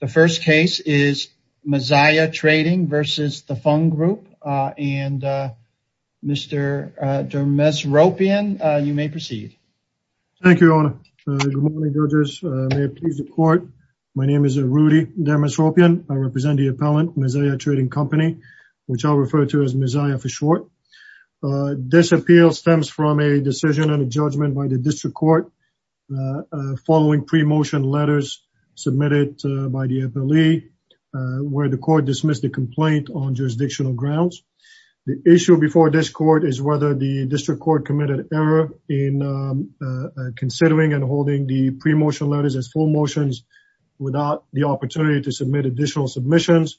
The first case is Maziah Trading versus the Fung Group and Mr. Dermesropian, you may proceed. Thank you, Your Honor. Good morning, judges. May it please the court. My name is Rudy Dermesropian. I represent the appellant, Maziah Trading Company, which I'll refer to as Maziah for short. This appeal stems from a decision and a judgment by the district court following pre-motion letters submitted by the FLE where the court dismissed the complaint on jurisdictional grounds. The issue before this court is whether the district court committed error in considering and holding the pre-motion letters as full motions without the opportunity to submit additional submissions,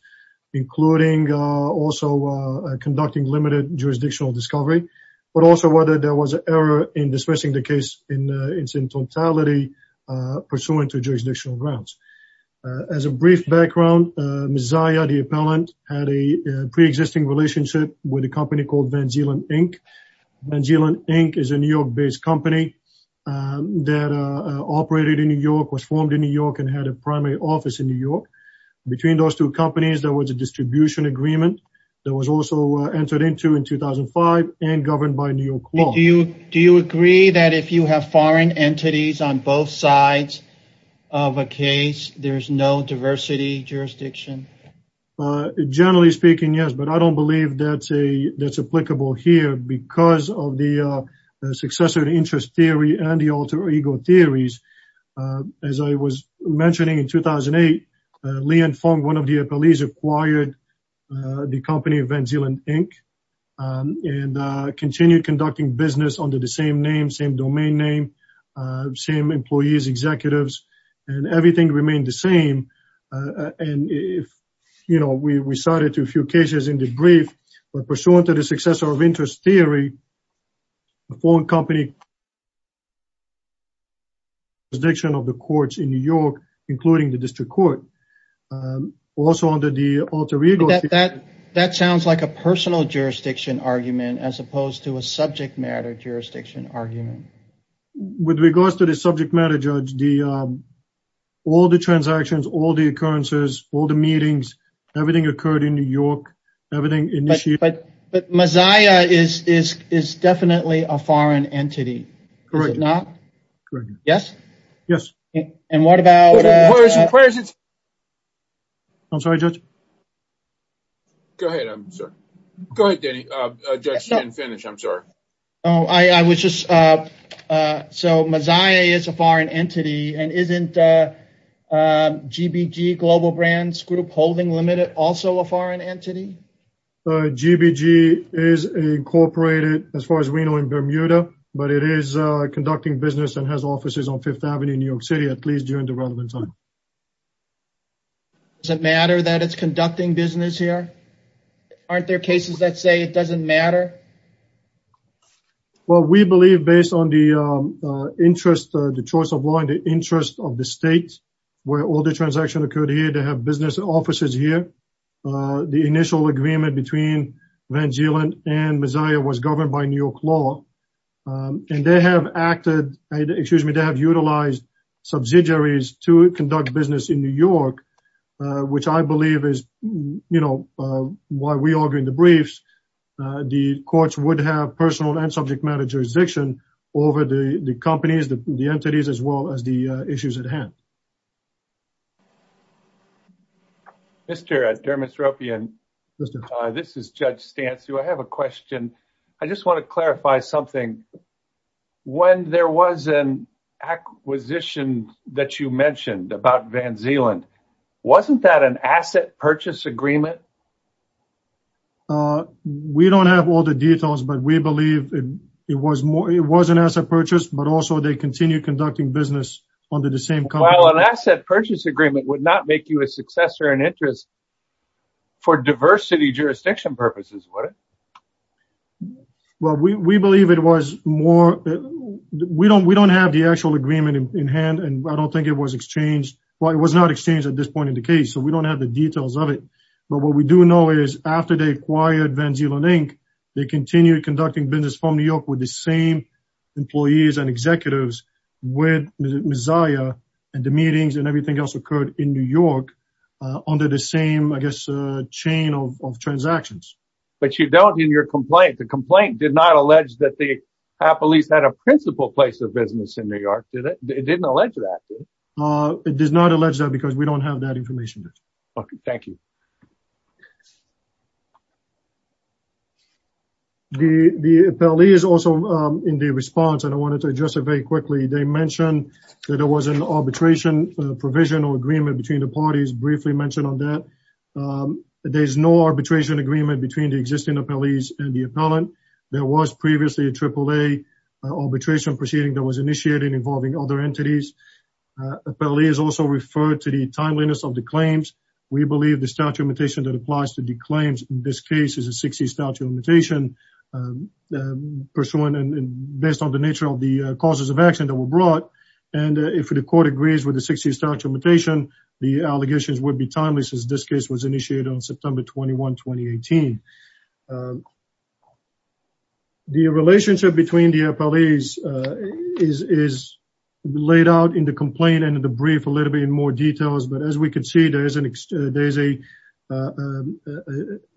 including also conducting limited jurisdictional discovery, but also whether there was an error in dismissing the case in its totality pursuant to jurisdictional grounds. As a brief background, Maziah, the appellant, had a pre-existing relationship with a company called Van Zeeland Inc. Van Zeeland Inc. is a New York-based company that operated in New York, was formed in New York, and had a primary office in New York. Between those two companies, there was a distribution agreement that was also entered into in 2005 and governed by New York law. Do you agree that if you have foreign entities on both sides of a case, there's no diversity jurisdiction? Generally speaking, yes, but I don't believe that's applicable here because of the successor interest theory and the alter ego theories. As I was mentioning in 2008, Lee and Fung, one of the appellees, acquired the company Van Zeeland Inc. and continued conducting business under the same name, same domain name, same employees, executives, and everything remained the same. And if, you know, we cited a few cases in the brief, but pursuant to the successor of interest theory, the foreign company contradiction of the courts in New York, including the district court, also under the alter ego theory. That sounds like a personal jurisdiction argument as opposed to a subject matter jurisdiction argument. With regards to the subject matter, Judge, all the transactions, all the occurrences, all the meetings, everything occurred in New York, everything initiated. But Mosiah is definitely a foreign entity. Correct. Is it not? Yes. Yes. And what about... I'm sorry, Judge. Go ahead, I'm sorry. Go ahead, Danny. Judge can't finish. I'm sorry. Oh, I was just... So Mosiah is a foreign entity and isn't GBG Global Brands Group Holding Limited also a foreign entity? GBG is incorporated as far as in Bermuda, but it is conducting business and has offices on Fifth Avenue in New York City, at least during the relevant time. Does it matter that it's conducting business here? Aren't there cases that say it doesn't matter? Well, we believe based on the interest, the choice of law and the interest of the state, where all the transactions occurred here, they have business offices here. The initial agreement between Van Zeeland and Mosiah was governed by New York law. And they have acted, excuse me, they have utilized subsidiaries to conduct business in New York, which I believe is why we are doing the briefs. The courts would have personal and subject matter jurisdiction over the companies, the entities, as well as the something. When there was an acquisition that you mentioned about Van Zeeland, wasn't that an asset purchase agreement? We don't have all the details, but we believe it was an asset purchase, but also they continue conducting business under the same... Well, an asset purchase agreement would not make you a successor in interest for diversity jurisdiction purposes, would it? Well, we believe it was more... We don't have the actual agreement in hand, and I don't think it was exchanged. Well, it was not exchanged at this point in the case, so we don't have the details of it. But what we do know is after they acquired Van Zeeland Inc., they continued conducting business from New York with the same employees and executives with Mosiah, and the meetings and everything else occurred in New York under the same, I guess, chain of transactions. But you don't in your complaint. The complaint did not allege that the police had a principal place of business in New York, did it? It didn't allege that, did it? It does not allege that because we don't have that information. Okay, thank you. The appellee is also in the response, and I wanted to address it very quickly. They mentioned that there was an arbitration provision or agreement between the parties, briefly mentioned on that. There's no arbitration agreement between the existing appellees and the appellant. There was previously a AAA arbitration proceeding that was initiated involving other entities. Appellee is also referred to the timeliness of the claims. We believe the statute of limitation that applies to the claims in this case is a 60 statute of limitation and pursuant and based on the nature of the causes of action that were brought. And if the court agrees with the 60 statute of limitation, the allegations would be timeless as this case was initiated on September 21, 2018. The relationship between the appellees is laid out in the complaint and the brief a little bit in more details. But as we can see, there is a a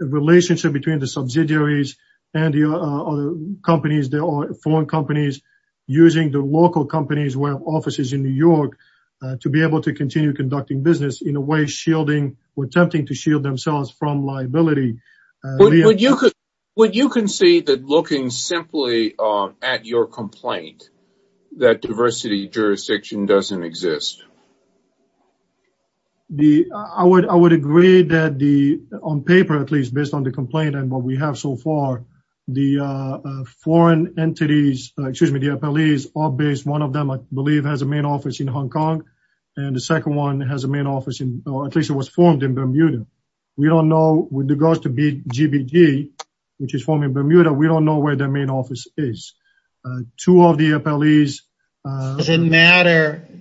relationship between the subsidiaries and the other companies. There are foreign companies using the local companies who have offices in New York to be able to continue conducting business in a way shielding or attempting to shield themselves from liability. Would you concede that looking simply at your complaint that diversity jurisdiction doesn't exist? I would agree that the on paper, at least based on the complaint and what we have so far, the foreign entities, excuse me, the appellees are based. One of them I believe has a main office in Hong Kong and the second one has a main office in or at least it was formed in Bermuda. We don't know with regards to GBG, which is forming Bermuda. We don't know where their appellees.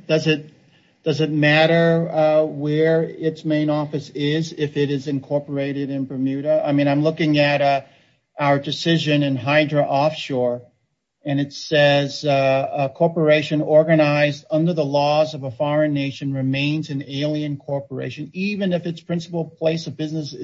Does it matter where its main office is if it is incorporated in Bermuda? I mean, I'm looking at our decision in Hydra Offshore and it says a corporation organized under the laws of a foreign nation remains an alien corporation even if its principal place of judge.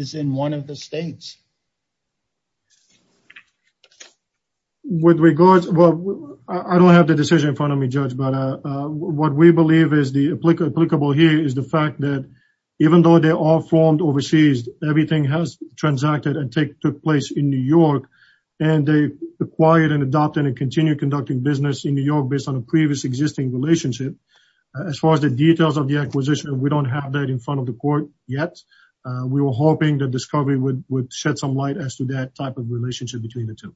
But what we believe is the applicable here is the fact that even though they are formed overseas, everything has transacted and took place in New York and they acquired and adopted and continue conducting business in New York based on a previous existing relationship. As far as the details of the acquisition, we don't have that in front of the court yet. We were hoping that discovery would shed some light as to that type of relationship between the two.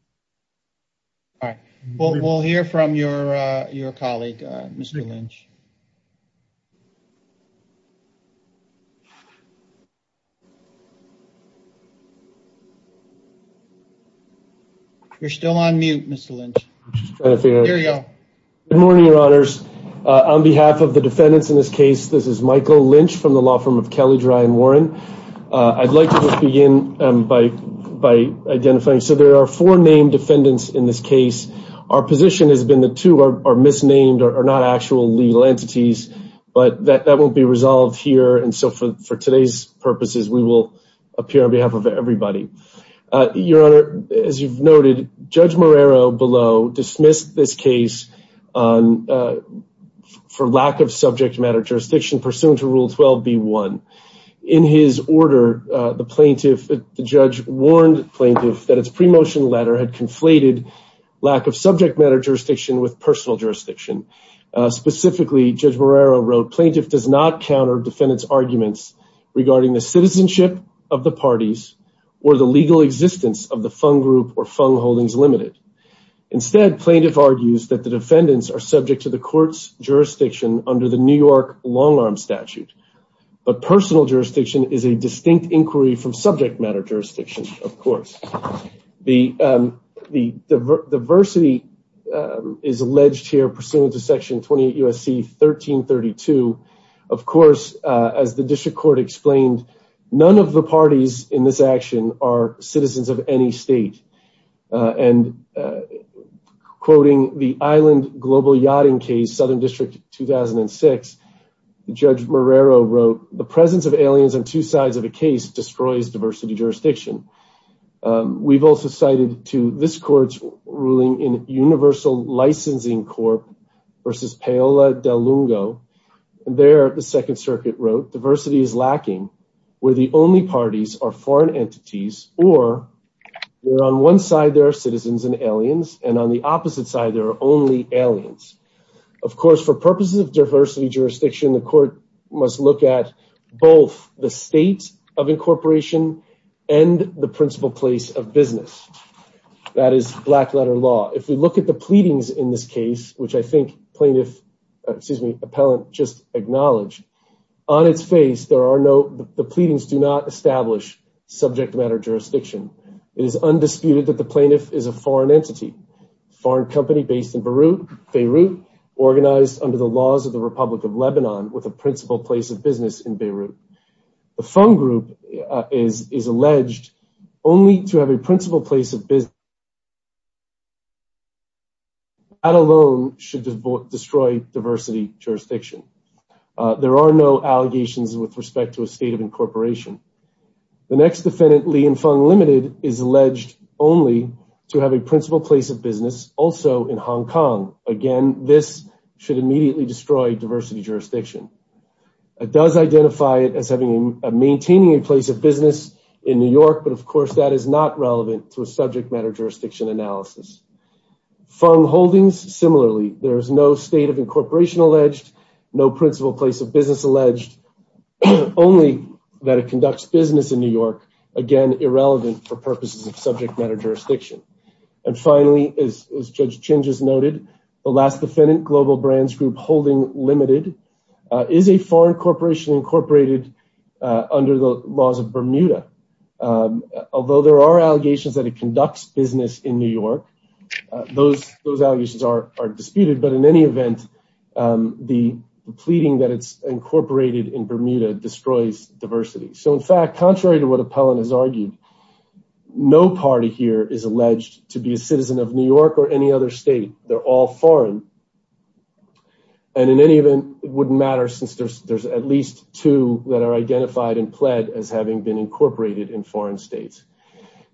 All right, we'll hear from your colleague, Mr. Lynch. You're still on mute, Mr. Lynch. Good morning, your honors. On behalf of the defendants in this case, this is Michael Lynch from the law firm of Kelly Dry and Warren. I'd like to just begin by identifying. So there are four named defendants in this case. Our position has been the two are misnamed or are not actual legal entities, but that won't be resolved here. And so for today's purposes, we will appear on behalf of everybody. Your honor, as you've noted, Judge Marrero below dismissed this case for lack of subject matter jurisdiction pursuant to Rule 12B1. In his order, the plaintiff, the judge warned plaintiff that its pre-motion letter had conflated lack of subject matter jurisdiction with personal jurisdiction. Specifically, Judge Marrero wrote, plaintiff does not counter defendant's arguments regarding the citizenship of the parties or the legal existence of the Fung Group or Fung Holdings Limited. Instead, plaintiff argues that the defendants are subject to the court's jurisdiction under the New York long arm statute. But personal jurisdiction is a distinct inquiry from subject matter jurisdiction, of course. The diversity is alleged here pursuant to Section 28 U.S.C. 1332. Of course, as the district court explained, none of the parties in this action are citizens of any state. And quoting the Island Global Yachting Southern District 2006, Judge Marrero wrote, the presence of aliens on two sides of a case destroys diversity jurisdiction. We've also cited to this court's ruling in Universal Licensing Corp versus Paola Del Lungo. There, the Second Circuit wrote, diversity is lacking where the only parties are foreign entities or where on one side there are citizens and aliens and on the opposite side, there are only aliens. Of course, for purposes of diversity jurisdiction, the court must look at both the state of incorporation and the principal place of business. That is black letter law. If we look at the pleadings in this case, which I think plaintiff, excuse me, appellant just acknowledged, on its face, there are no, the pleadings do not establish subject matter jurisdiction. It is based in Beirut, organized under the laws of the Republic of Lebanon with a principal place of business in Beirut. The Fung Group is alleged only to have a principal place of business. That alone should destroy diversity jurisdiction. There are no allegations with respect to a state of incorporation. The next defendant, Lee and Fung Limited, is alleged only to have a principal place of business also in Hong Kong. Again, this should immediately destroy diversity jurisdiction. It does identify it as having a maintaining a place of business in New York, but of course that is not relevant to a subject matter jurisdiction analysis. Fung Holdings, similarly, there is no state of incorporation alleged, no principal place of business alleged, only that it conducts business in New York. Again, irrelevant for purposes of subject matter jurisdiction. And finally, as Judge Chinges noted, the last defendant, Global Brands Group Holding Limited, is a foreign corporation incorporated under the laws of Bermuda. Although there are allegations that it conducts business in New York, those allegations are disputed, but in any event, the pleading that it's argued, no party here is alleged to be a citizen of New York or any other state. They're all foreign. And in any event, it wouldn't matter since there's at least two that are identified and pled as having been incorporated in foreign states.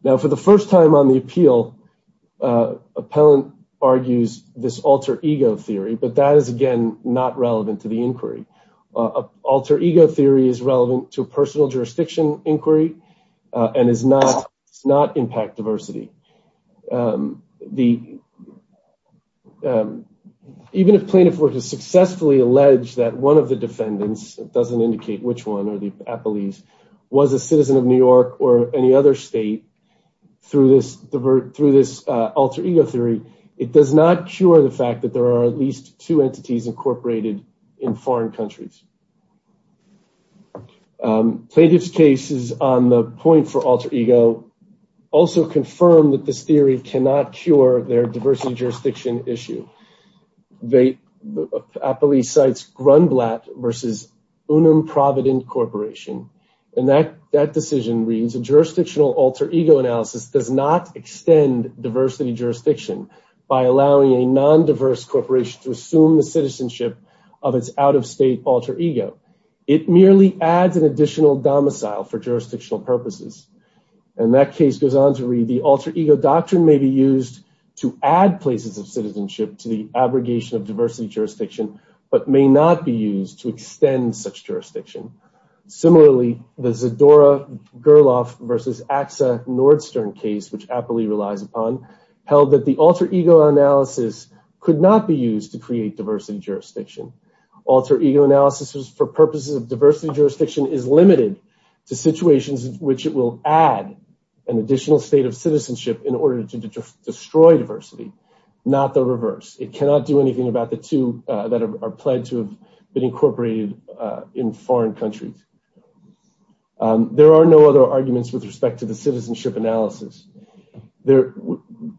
Now, for the first time on the appeal, Appellant argues this alter ego theory, but that is again not relevant to the inquiry. A alter ego theory is relevant to personal jurisdiction inquiry and does not impact diversity. Even if plaintiff were to successfully allege that one of the defendants, it doesn't indicate which one, or the appellees, was a citizen of New York or any other state through this alter ego theory, it does not cure the fact that there are at least two entities incorporated in foreign countries. Plaintiff's case is on the point for alter ego, also confirmed that this theory cannot cure their diversity jurisdiction issue. The appellee cites Grunblatt versus Unum Provident Corporation, and that decision reads, a jurisdictional alter ego analysis does not extend diversity jurisdiction by allowing a citizenship of its out-of-state alter ego. It merely adds an additional domicile for jurisdictional purposes. And that case goes on to read, the alter ego doctrine may be used to add places of citizenship to the abrogation of diversity jurisdiction, but may not be used to extend such jurisdiction. Similarly, the Zadora-Gurloff versus AXA Nordstern case, which appellee relies upon, held that the alter ego analysis could not be used to create diversity jurisdiction. Alter ego analysis for purposes of diversity jurisdiction is limited to situations in which it will add an additional state of citizenship in order to destroy diversity, not the reverse. It cannot do anything about the two that are pledged to have been incorporated in foreign countries. There are no other arguments with respect to the citizenship analysis. There,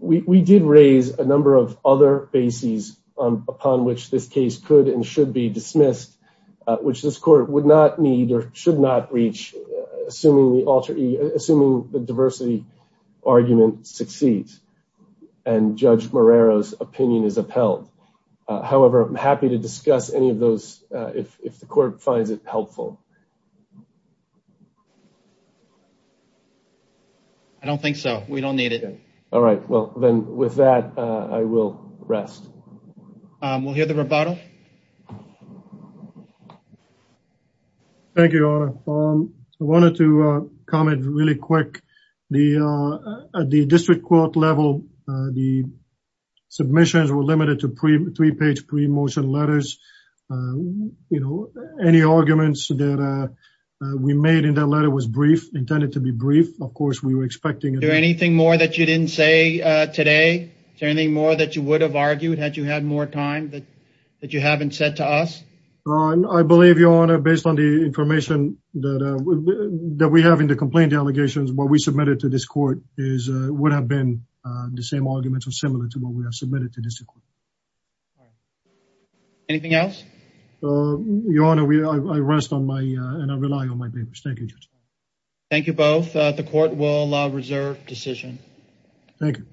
we did raise a number of other bases upon which this case could and should be dismissed, which this court would not need or should not reach, assuming the alter ego, assuming the diversity argument succeeds, and Judge Marrero's opinion is upheld. However, I'm happy to discuss any of those if the court finds it helpful. I don't think so. We don't need it. All right. Well, then with that, I will rest. We'll hear the rebuttal. Thank you, Your Honor. I wanted to comment really quick. At the district court level, the submissions were limited to three-page pre-motion letters. Any arguments that we made in that letter was brief, intended to be brief. Of course, we were expecting it. Is there anything more that you didn't say today? Is there anything more that you would have argued had you had more time that you haven't said to us? I believe, Your Honor, based on the information that we have in the complaint delegations, what we submitted to this court would have been the same arguments or similar to what we have submitted to the district court. Anything else? Your Honor, I rest and I rely on my papers. Thank you, Judge. Thank you both. The court will reserve decision. Thank you.